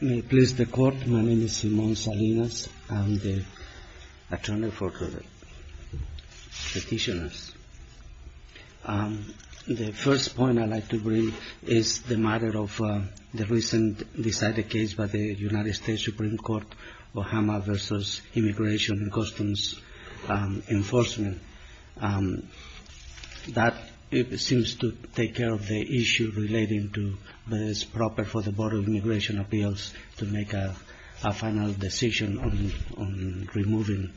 May it please the Court, my name is Simon Salinas, I am the attorney for the petitioners. The first point I'd like to bring is the matter of the recent decided case by the United States Supreme Court, Obama v. Immigration and Customs Enforcement. That seems to take care of the issue relating to whether it's proper for the Board of Immigration Appeals to make a final decision on removing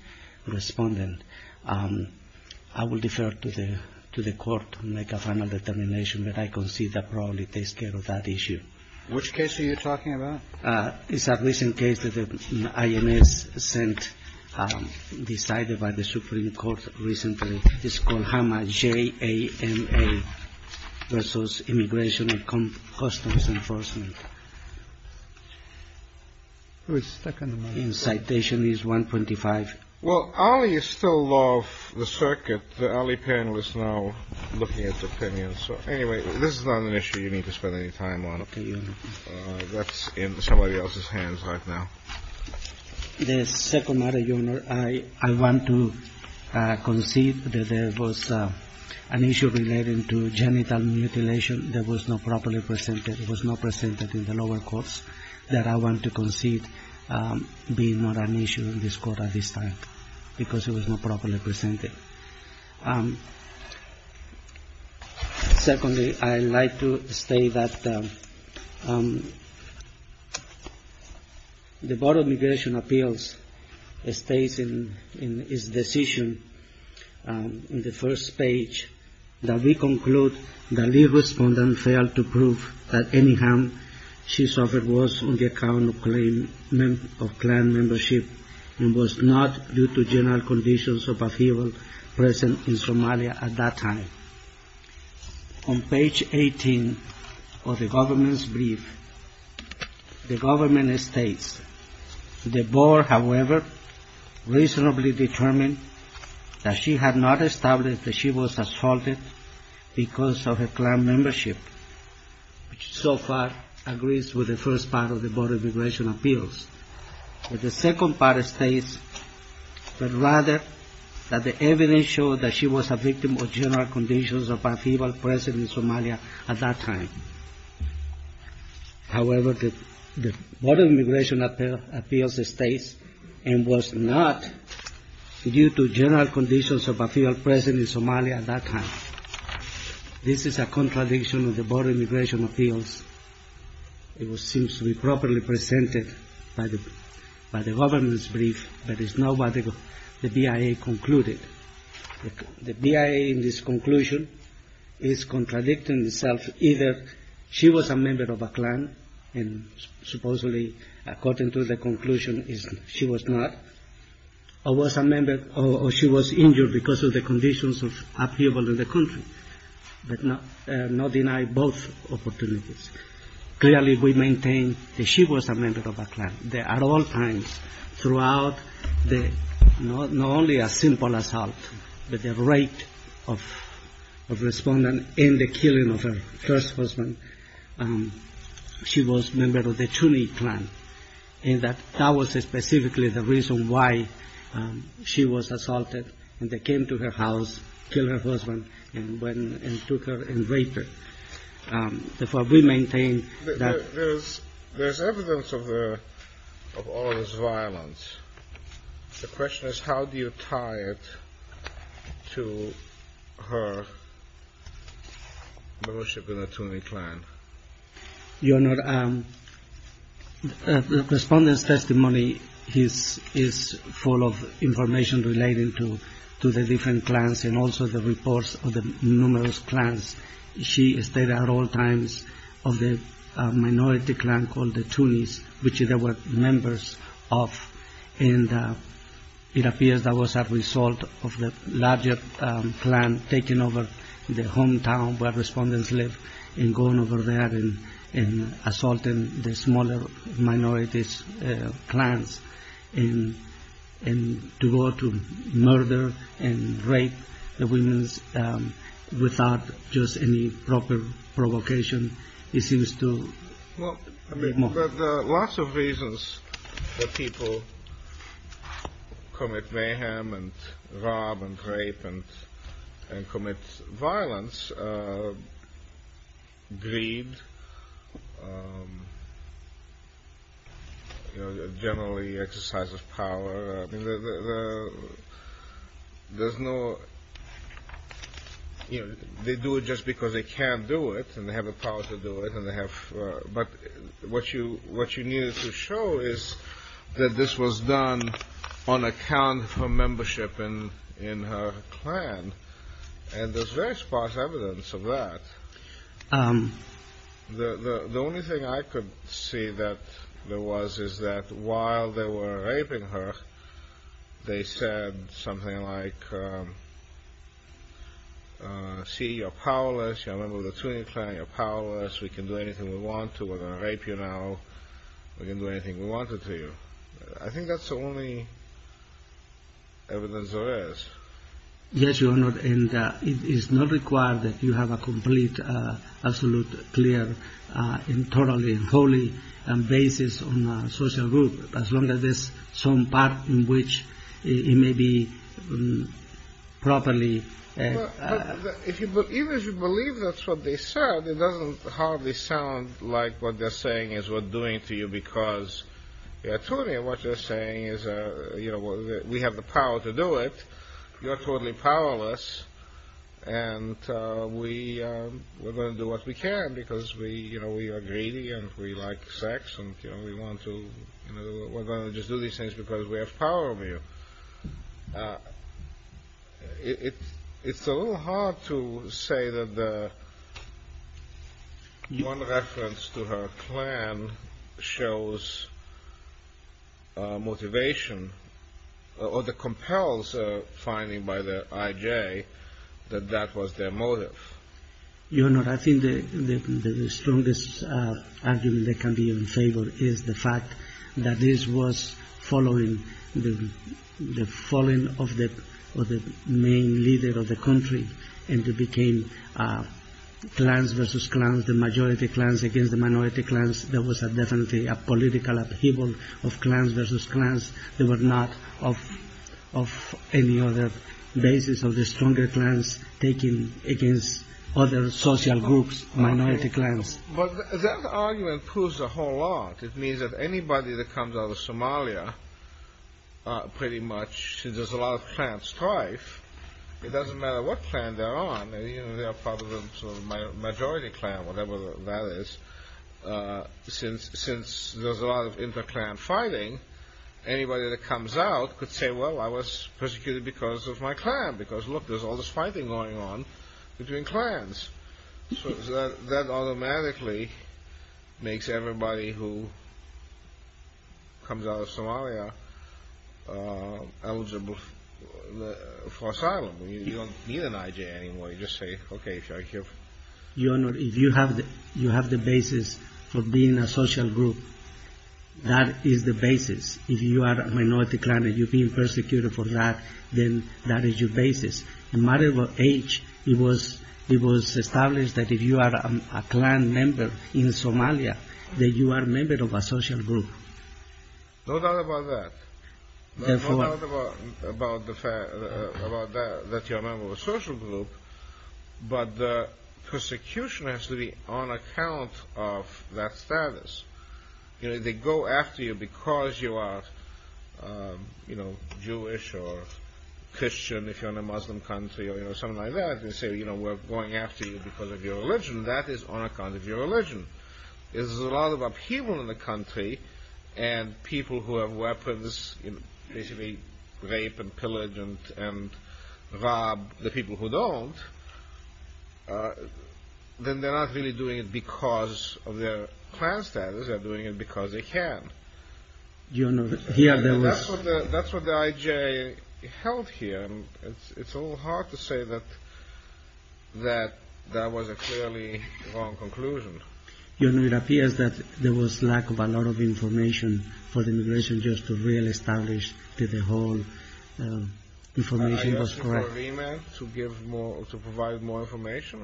a respondent. I will defer to the Court to make a final determination, but I concede that probably takes care of that issue. Which case are you talking about? It's a recent case that the INS sent decided by the Supreme Court recently. It's called Hama J.A.M.A. v. Immigration and Customs Enforcement. Who is second? Citation is 125. Well, Ali is still law of the circuit. The Ali panel is now looking at opinions. So anyway, this is not an issue you need to spend any time on. Okay. That's in somebody else's hands right now. The second matter, Your Honor, I want to concede that there was an issue relating to genital mutilation that was not properly presented. It was not presented in the lower courts that I want to concede being not an issue in this Court at this time, because it was not properly presented. Secondly, I'd like to state that the Board of Immigration Appeals states in its decision in the first page that we conclude that the lead respondent failed to prove that any harm she suffered was on the account of clan membership and was not due to general conditions of upheaval present in Somalia at that time. On page 18 of the government's brief, the government states, the Board, however, reasonably determined that she had not established that she was assaulted because of her clan membership, which so far agrees with the first part of the Board of Immigration Appeals. The second part states rather that the evidence showed that she was a victim of general conditions of upheaval present in Somalia at that time. However, the Board of Immigration Appeals states and was not due to general conditions of upheaval present in Somalia at that time. This is a contradiction of the Board of Immigration Appeals. It seems to be properly presented by the government's brief, but it's not what the BIA concluded. The BIA in this conclusion is contradicting itself. Either she was a member of a clan, and supposedly, according to the conclusion, she was not, or she was injured because of the conditions of upheaval in the country. But not deny both opportunities. Clearly, we maintain that she was a member of a clan. At all times throughout, not only a simple assault, but the rate of respondent in the killing of her first husband, she was a member of the Chuni clan, and that was specifically the reason why she was assaulted. And they came to her house, killed her first husband, and took her and raped her. Therefore, we maintain that. There's evidence of all this violence. The question is, how do you tie it to her worship in the Chuni clan? Your Honor, the respondent's testimony is full of information relating to the different clans and also the reports of the numerous clans. She stayed at all times of the minority clan called the Chunis, which they were members of. And it appears that was a result of the larger clan taking over the hometown where respondents lived and going over there and assaulting the smaller minority clans and to go to murder and rape the women without just any proper provocation. Well, I mean, there are lots of reasons that people commit mayhem and rob and rape and commit violence. Greed, generally exercise of power. There's no – they do it just because they can do it and they have the power to do it. But what you needed to show is that this was done on account of her membership in her clan. And there's very sparse evidence of that. The only thing I could see that there was is that while they were raping her, they said something like, see, you're powerless. You're a member of the Chuni clan. You're powerless. We can do anything we want to. We're going to rape you now. We can do anything we wanted to. I think that's the only evidence there is. Yes, Your Honor, and it is not required that you have a complete, absolute, clear and totally and wholly basis on a social group, as long as there's some part in which it may be properly – But even if you believe that's what they said, it doesn't hardly sound like what they're saying is we're doing it to you because, Antonio, what they're saying is we have the power to do it. You're totally powerless. And we're going to do what we can because we are greedy and we like sex and we're going to just do these things because we have power over you. It's a little hard to say that one reference to her clan shows motivation or the compels finding by the IJ that that was their motive. Your Honor, I think the strongest argument that can be in favor is the fact that this was following the falling of the main leader of the country and it became clans versus clans, the majority clans against the minority clans. There was definitely a political upheaval of clans versus clans. They were not of any other basis of the stronger clans taking against other social groups, minority clans. But that argument proves a whole lot. It means that anybody that comes out of Somalia, pretty much, since there's a lot of clan strife, it doesn't matter what clan they're on. They're probably the majority clan, whatever that is. Since there's a lot of inter-clan fighting, anybody that comes out could say, well, I was persecuted because of my clan because, look, there's all this fighting going on between clans. So that automatically makes everybody who comes out of Somalia eligible for asylum. You don't need an IJ anymore. You just say, okay, thank you. Your Honor, if you have the basis for being a social group, that is the basis. If you are a minority clan and you're being persecuted for that, then that is your basis. No matter what age, it was established that if you are a clan member in Somalia, that you are a member of a social group. No doubt about that. No doubt about that, that you're a member of a social group. But the persecution has to be on account of that status. They go after you because you are Jewish or Christian, if you're in a Muslim country, or something like that, and say we're going after you because of your religion. That is on account of your religion. If there's a lot of upheaval in the country and people who have weapons, basically rape and pillage and rob the people who don't, then they're not really doing it because of their clan status. They're doing it because they can. Your Honor, here there was... That's what the IJ held here. It's a little hard to say that that was a clearly wrong conclusion. Your Honor, it appears that there was lack of a lot of information for the immigration judge to really establish that the whole information was correct. To provide more information,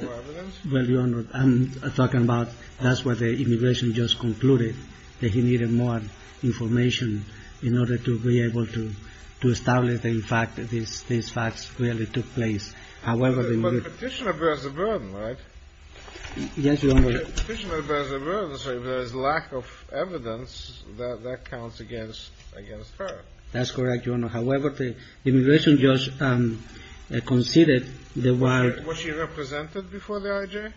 more evidence? Well, Your Honor, I'm talking about that's what the immigration judge concluded, that he needed more information in order to be able to establish that in fact these facts really took place. But a petitioner bears the burden, right? Yes, Your Honor. A petitioner bears the burden, so if there's lack of evidence, that counts against her. That's correct, Your Honor. However, the immigration judge conceded that while... Was she represented before the IJ?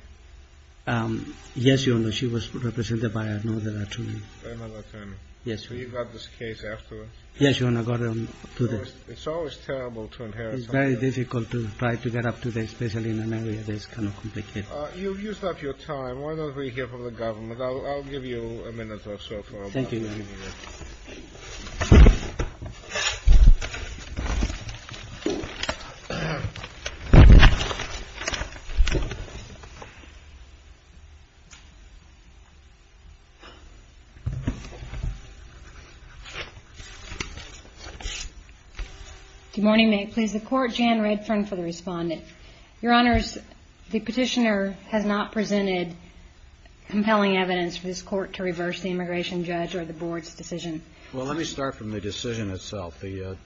Yes, Your Honor. She was represented by another attorney. Another attorney. Yes, Your Honor. So you got this case afterwards? Yes, Your Honor, I got it today. It's always terrible to inherit something. It's very difficult to try to get up to that, especially in an area that's kind of complicated. You've used up your time. Why don't we hear from the government? I'll give you a minute or so. Thank you, Your Honor. Good morning. May it please the Court. Jan Redfern for the Respondent. Your Honors, the petitioner has not presented compelling evidence for this Court to reverse the immigration judge or the Board's decision. Well, let me start from the decision itself. The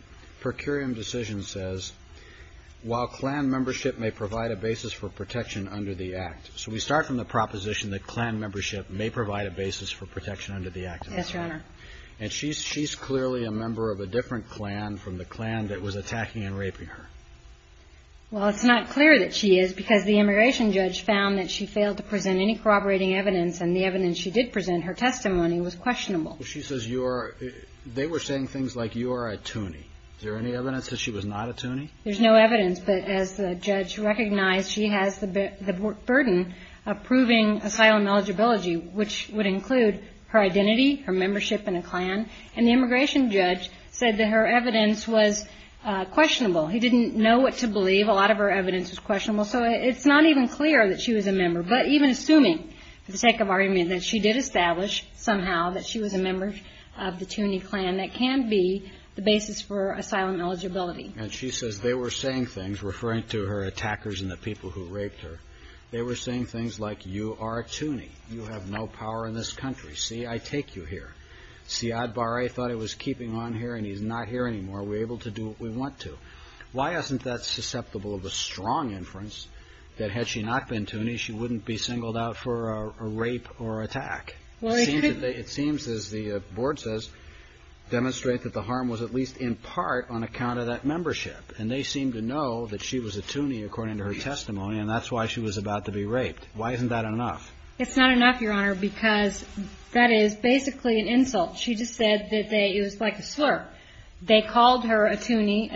per curiam decision says while Klan membership may provide a basis for protection under the Act. So we start from the proposition that Klan membership may provide a basis for protection under the Act. Yes, Your Honor. And she's clearly a member of a different Klan from the Klan that was attacking and raping her. Well, it's not clear that she is because the immigration judge found that she failed to present any corroborating evidence and the evidence she did present, her testimony, was questionable. She says you are – they were saying things like you are a toonie. Is there any evidence that she was not a toonie? There's no evidence. But as the judge recognized, she has the burden of proving asylum eligibility, which would include her identity, her membership in a Klan. And the immigration judge said that her evidence was questionable. He didn't know what to believe. A lot of her evidence was questionable. So it's not even clear that she was a member. But even assuming, for the sake of argument, that she did establish somehow that she was a member of the toonie Klan, that can be the basis for asylum eligibility. And she says they were saying things, referring to her attackers and the people who raped her, they were saying things like you are a toonie. You have no power in this country. See, I take you here. Siad Barre thought he was keeping on here and he's not here anymore. We're able to do what we want to. Why isn't that susceptible of a strong inference that had she not been toonie, she wouldn't be singled out for a rape or attack? It seems, as the board says, demonstrate that the harm was at least in part on account of that membership. And they seem to know that she was a toonie according to her testimony, and that's why she was about to be raped. Why isn't that enough? It's not enough, Your Honor, because that is basically an insult. She just said that it was like a slur. They called her a toonie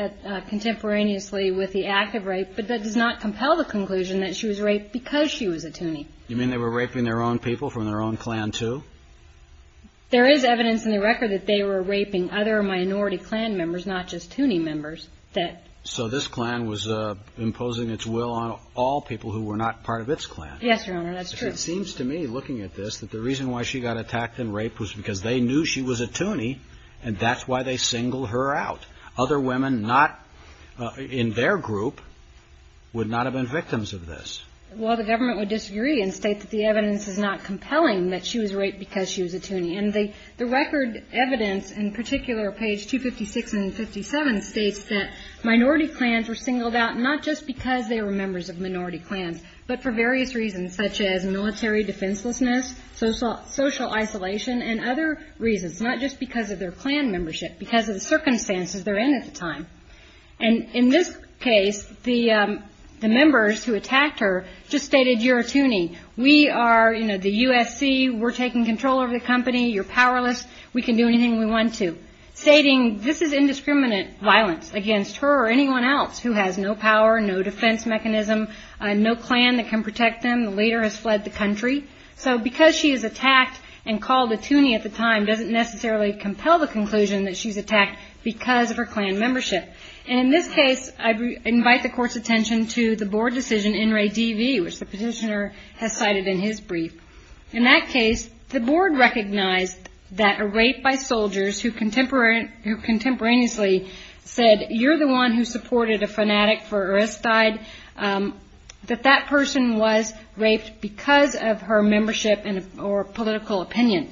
contemporaneously with the act of rape, but that does not compel the conclusion that she was raped because she was a toonie. You mean they were raping their own people from their own clan too? There is evidence in the record that they were raping other minority clan members, not just toonie members. So this clan was imposing its will on all people who were not part of its clan. Yes, Your Honor, that's true. It seems to me, looking at this, that the reason why she got attacked and raped was because they knew she was a toonie, and that's why they singled her out. Other women not in their group would not have been victims of this. Well, the government would disagree and state that the evidence is not compelling that she was raped because she was a toonie. And the record evidence, in particular, page 256 and 57, states that minority clans were singled out, not just because they were members of minority clans, but for various reasons, such as military defenselessness, social isolation, and other reasons, not just because of their clan membership, but because of the circumstances they were in at the time. And in this case, the members who attacked her just stated, You're a toonie. We are the USC. We're taking control over the company. You're powerless. We can do anything we want to, stating this is indiscriminate violence against her or anyone else who has no power, The leader has fled the country. So because she is attacked and called a toonie at the time doesn't necessarily compel the conclusion that she's attacked because of her clan membership. And in this case, I invite the court's attention to the board decision in Ray D.V., which the petitioner has cited in his brief. In that case, the board recognized that a rape by soldiers who contemporaneously said, You're the one who supported a fanatic for Aristide, that that person was raped because of her membership or political opinion.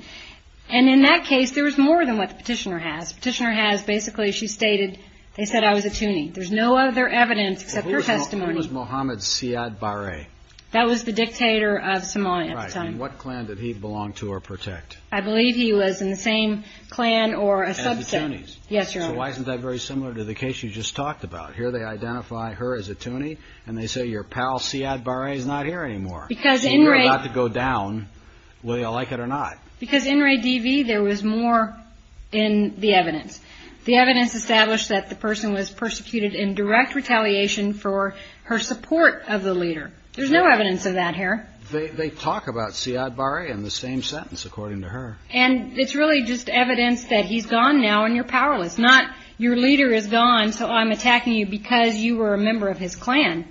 And in that case, there was more than what the petitioner has. The petitioner has basically, she stated, they said I was a toonie. There's no other evidence except her testimony. Who was Mohamed Siad Barre? That was the dictator of Somalia at the time. Right. And what clan did he belong to or protect? I believe he was in the same clan or a subset. As the toonies. Yes, Your Honor. So why isn't that very similar to the case you just talked about? Here they identify her as a toonie. And they say your pal Siad Barre is not here anymore. You're about to go down. Will you like it or not? Because in Ray D.V., there was more in the evidence. The evidence established that the person was persecuted in direct retaliation for her support of the leader. There's no evidence of that here. They talk about Siad Barre in the same sentence, according to her. And it's really just evidence that he's gone now and you're powerless. Not your leader is gone, so I'm attacking you because you were a member of his clan.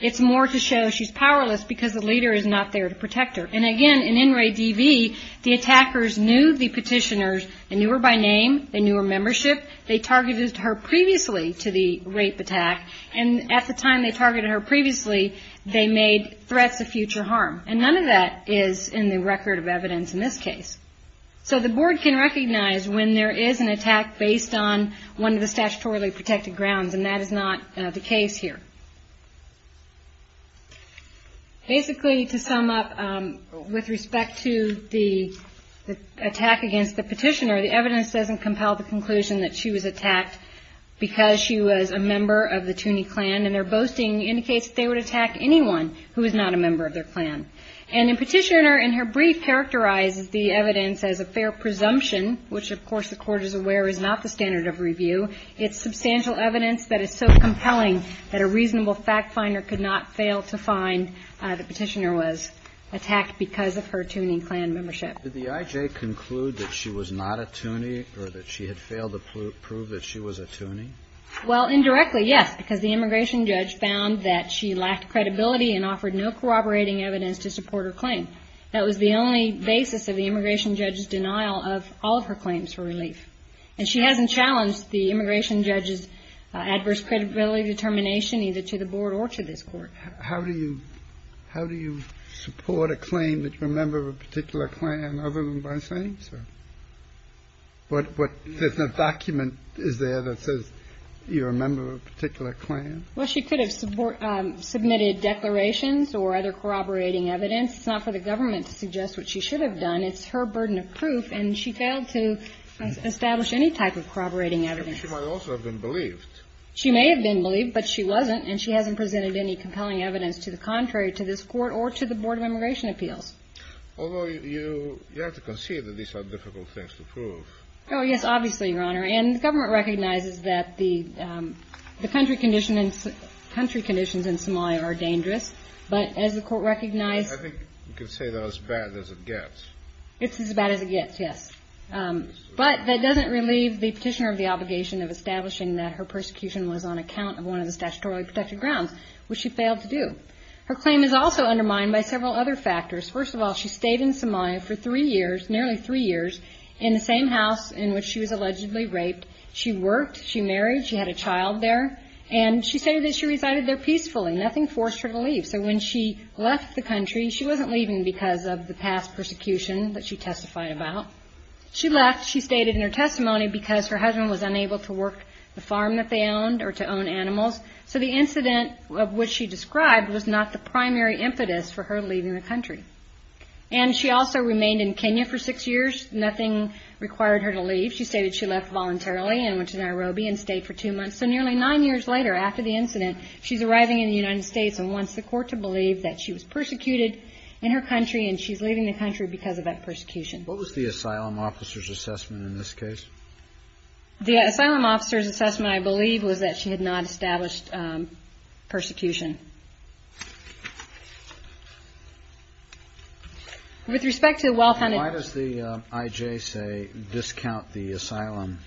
It's more to show she's powerless because the leader is not there to protect her. And, again, in Ray D.V., the attackers knew the petitioners. They knew her by name. They knew her membership. They targeted her previously to the rape attack. And at the time they targeted her previously, they made threats of future harm. And none of that is in the record of evidence in this case. So the board can recognize when there is an attack based on one of the statutorily protected grounds, and that is not the case here. Basically, to sum up, with respect to the attack against the petitioner, the evidence doesn't compel the conclusion that she was attacked because she was a member of the Tooney clan, and their boasting indicates that they would attack anyone who is not a member of their clan. And the petitioner, in her brief, characterizes the evidence as a fair presumption, which, of course, the court is aware is not the standard of review. It's substantial evidence that is so compelling that a reasonable fact finder could not fail to find the petitioner was attacked because of her Tooney clan membership. Did the I.J. conclude that she was not a Tooney or that she had failed to prove that she was a Tooney? Well, indirectly, yes, because the immigration judge found that she lacked credibility and offered no corroborating evidence to support her claim. That was the only basis of the immigration judge's denial of all of her claims for relief. And she hasn't challenged the immigration judge's adverse credibility determination either to the board or to this court. How do you support a claim that you're a member of a particular clan other than by saying so? There's no document is there that says you're a member of a particular clan? Well, she could have submitted declarations or other corroborating evidence. It's not for the government to suggest what she should have done. It's her burden of proof. And she failed to establish any type of corroborating evidence. She might also have been believed. She may have been believed, but she wasn't. And she hasn't presented any compelling evidence to the contrary to this court or to the Board of Immigration Appeals. Although you have to concede that these are difficult things to prove. Oh, yes, obviously, Your Honor. And the government recognizes that the country conditions in Somalia are dangerous. But as the court recognized... I think you could say that as bad as it gets. It's as bad as it gets, yes. But that doesn't relieve the petitioner of the obligation of establishing that her persecution was on account of one of the statutorily protected grounds, which she failed to do. Her claim is also undermined by several other factors. First of all, she stayed in Somalia for three years, nearly three years, in the same house in which she was allegedly raped. She worked. She married. She had a child there. And she stated that she resided there peacefully. Nothing forced her to leave. So when she left the country, she wasn't leaving because of the past persecution that she testified about. She left, she stated in her testimony, because her husband was unable to work the farm that they owned or to own animals. So the incident of which she described was not the primary impetus for her leaving the country. And she also remained in Kenya for six years. Nothing required her to leave. She stated she left voluntarily and went to Nairobi and stayed for two months. So nearly nine years later, after the incident, she's arriving in the United States and wants the court to believe that she was persecuted in her country and she's leaving the country because of that persecution. What was the asylum officer's assessment in this case? The asylum officer's assessment, I believe, was that she had not established persecution. With respect to the well-founded... Why does the IJ say, discount the asylum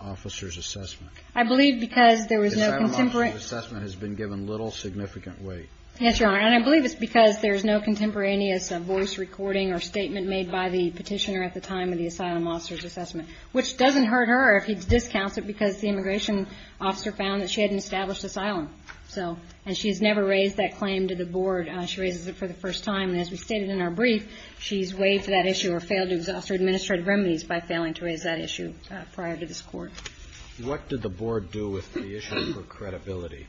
officer's assessment? I believe because there was no contemporary... The asylum officer's assessment has been given little significant weight. Yes, Your Honor, and I believe it's because there's no contemporaneous voice recording or statement made by the petitioner at the time of the asylum officer's assessment. Which doesn't hurt her if he discounts it because the immigration officer found that she hadn't established asylum. And she's never raised that claim to the board. She raises it for the first time. And as we stated in our brief, she's waived that issue or failed to exhaust her administrative remedies by failing to raise that issue prior to this court. What did the board do with the issue for credibility?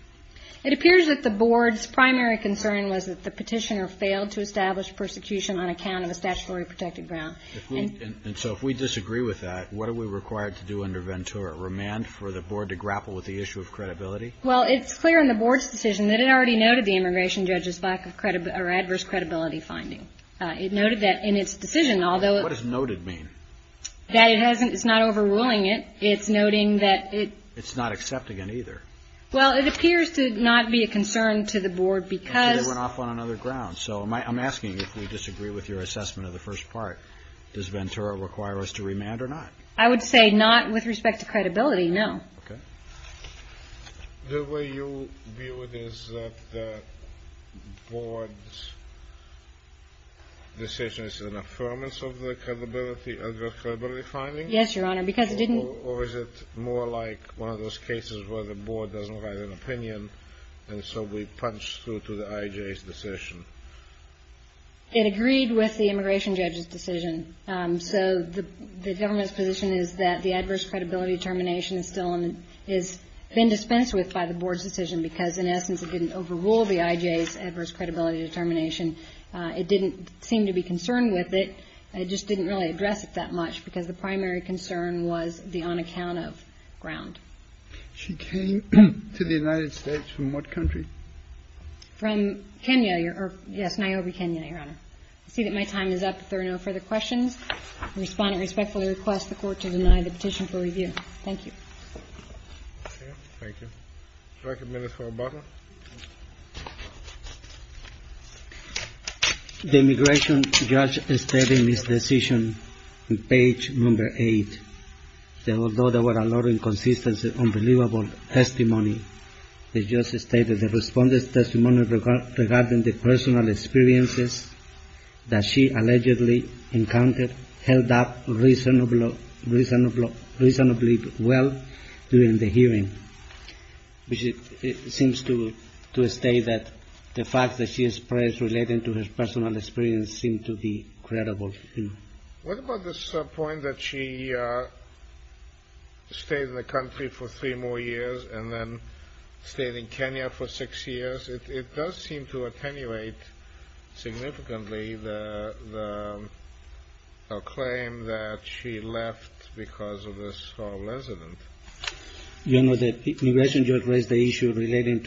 It appears that the board's primary concern was that the petitioner failed to establish persecution on account of a statutory protected ground. And so if we disagree with that, what are we required to do under Ventura? Remand for the board to grapple with the issue of credibility? Well, it's clear in the board's decision that it already noted the immigration judge's adverse credibility finding. It noted that in its decision, although... What does noted mean? That it's not overruling it. It's noting that it... It's not accepting it either. Well, it appears to not be a concern to the board because... It went off on another ground. So I'm asking if we disagree with your assessment of the first part. Does Ventura require us to remand or not? I would say not with respect to credibility, no. Okay. The way you view it is that the board's decision is an affirmance of the credibility, adverse credibility finding? Yes, Your Honor, because it didn't... It agreed with the immigration judge's decision. So the government's position is that the adverse credibility determination is still in... Has been dispensed with by the board's decision because, in essence, it didn't overrule the IJ's adverse credibility determination. It didn't seem to be concerned with it. It just didn't really address it that much because the primary concern was the on-account-of ground. She came to the United States from what country? From Kenya, Your Honor. Yes, Niobe, Kenya, Your Honor. I see that my time is up. If there are no further questions, the Respondent respectfully requests the Court to deny the petition for review. Thank you. Thank you. Do I have a minute for Obama? The immigration judge stated in his decision on page number 8 that although there were a lot of inconsistencies, it was an unbelievable testimony. The judge stated the Respondent's testimony regarding the personal experiences that she allegedly encountered held up reasonably well during the hearing. It seems to state that the facts that she expressed relating to her personal experience seem to be credible. What about this point that she stayed in the country for three more years and then stayed in Kenya for six years? It does seem to attenuate significantly the claim that she left because of this resident. Your Honor, the immigration judge raised the issue relating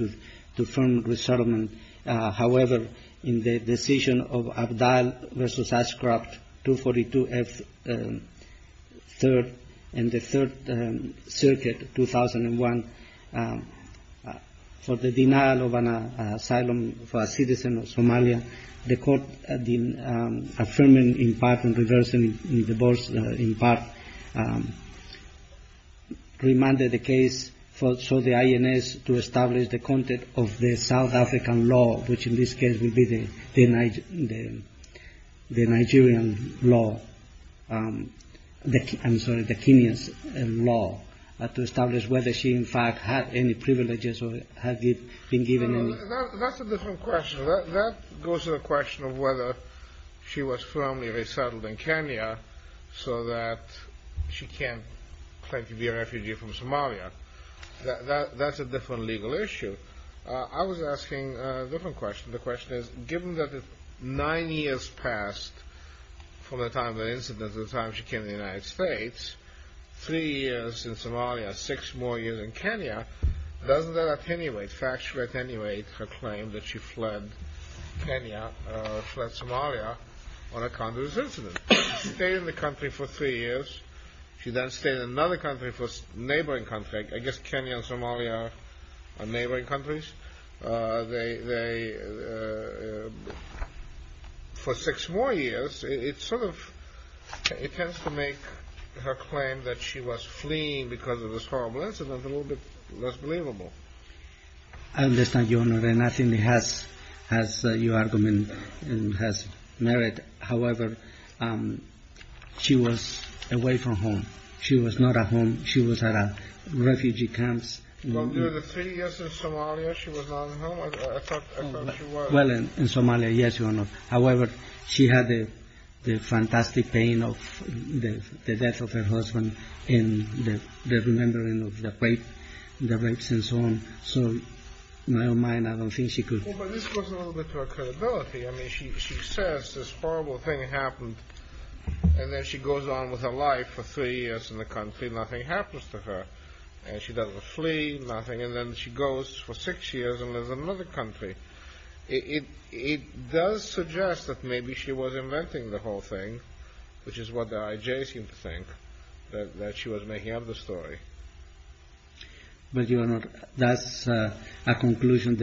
to firm resettlement. However, in the decision of Abdal v. Ashcroft, 242F, 3rd and the 3rd Circuit, 2001, for the denial of an asylum for a citizen of Somalia, the Court affirmed in part and reversed in part, remanded the case for the INS to establish the content of the South African law, which in this case would be the Nigerian law, I'm sorry, the Kenyan law, to establish whether she in fact had any privileges or had been given any. That's a different question. That goes to the question of whether she was firmly resettled in Kenya so that she can't claim to be a refugee from Somalia. That's a different legal issue. I was asking a different question. The question is, given that nine years passed from the time of the incident to the time she came to the United States, doesn't that attenuate, factually attenuate her claim that she fled Kenya, fled Somalia, on account of this incident? She stayed in the country for three years. She then stayed in another country, a neighboring country. I guess Kenya and Somalia are neighboring countries. For six more years, it sort of tends to make her claim that she was fleeing because of this horrible incident a little bit less believable. I understand, Your Honor, and I think it has your argument and has merit. However, she was away from home. She was not at home. She was at a refugee camp. Well, during the three years in Somalia, she was not at home? I thought she was. Well, in Somalia, yes, Your Honor. However, she had the fantastic pain of the death of her husband and the remembering of the rapes and so on. So, in her mind, I don't think she could. Well, but this goes a little bit to her credibility. I mean, she says this horrible thing happened, and then she goes on with her life for three years in the country. Nothing happens to her, and she doesn't flee, nothing. And then she goes for six years and lives in another country. It does suggest that maybe she was inventing the whole thing, which is what the IJ seems to think, that she was making up the story. But, Your Honor, that's a conclusion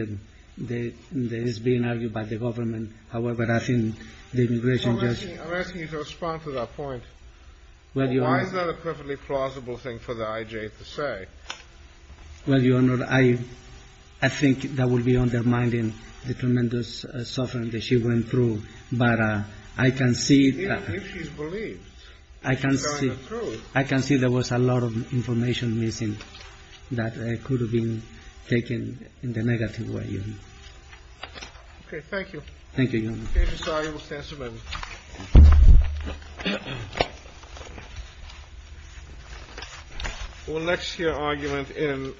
that is being argued by the government. However, I think the immigration judge… I'm asking you to respond to that point. Well, Your Honor… Why is that a perfectly plausible thing for the IJ to say? Well, Your Honor, I think that would be undermining the tremendous suffering that she went through. But I can see… Even if she's believed, she's telling the truth. I can see there was a lot of information missing that could have been taken in the negative way. Okay. Thank you. Thank you, Your Honor. The case is sorted. We'll cancel it. We'll next hear an argument in…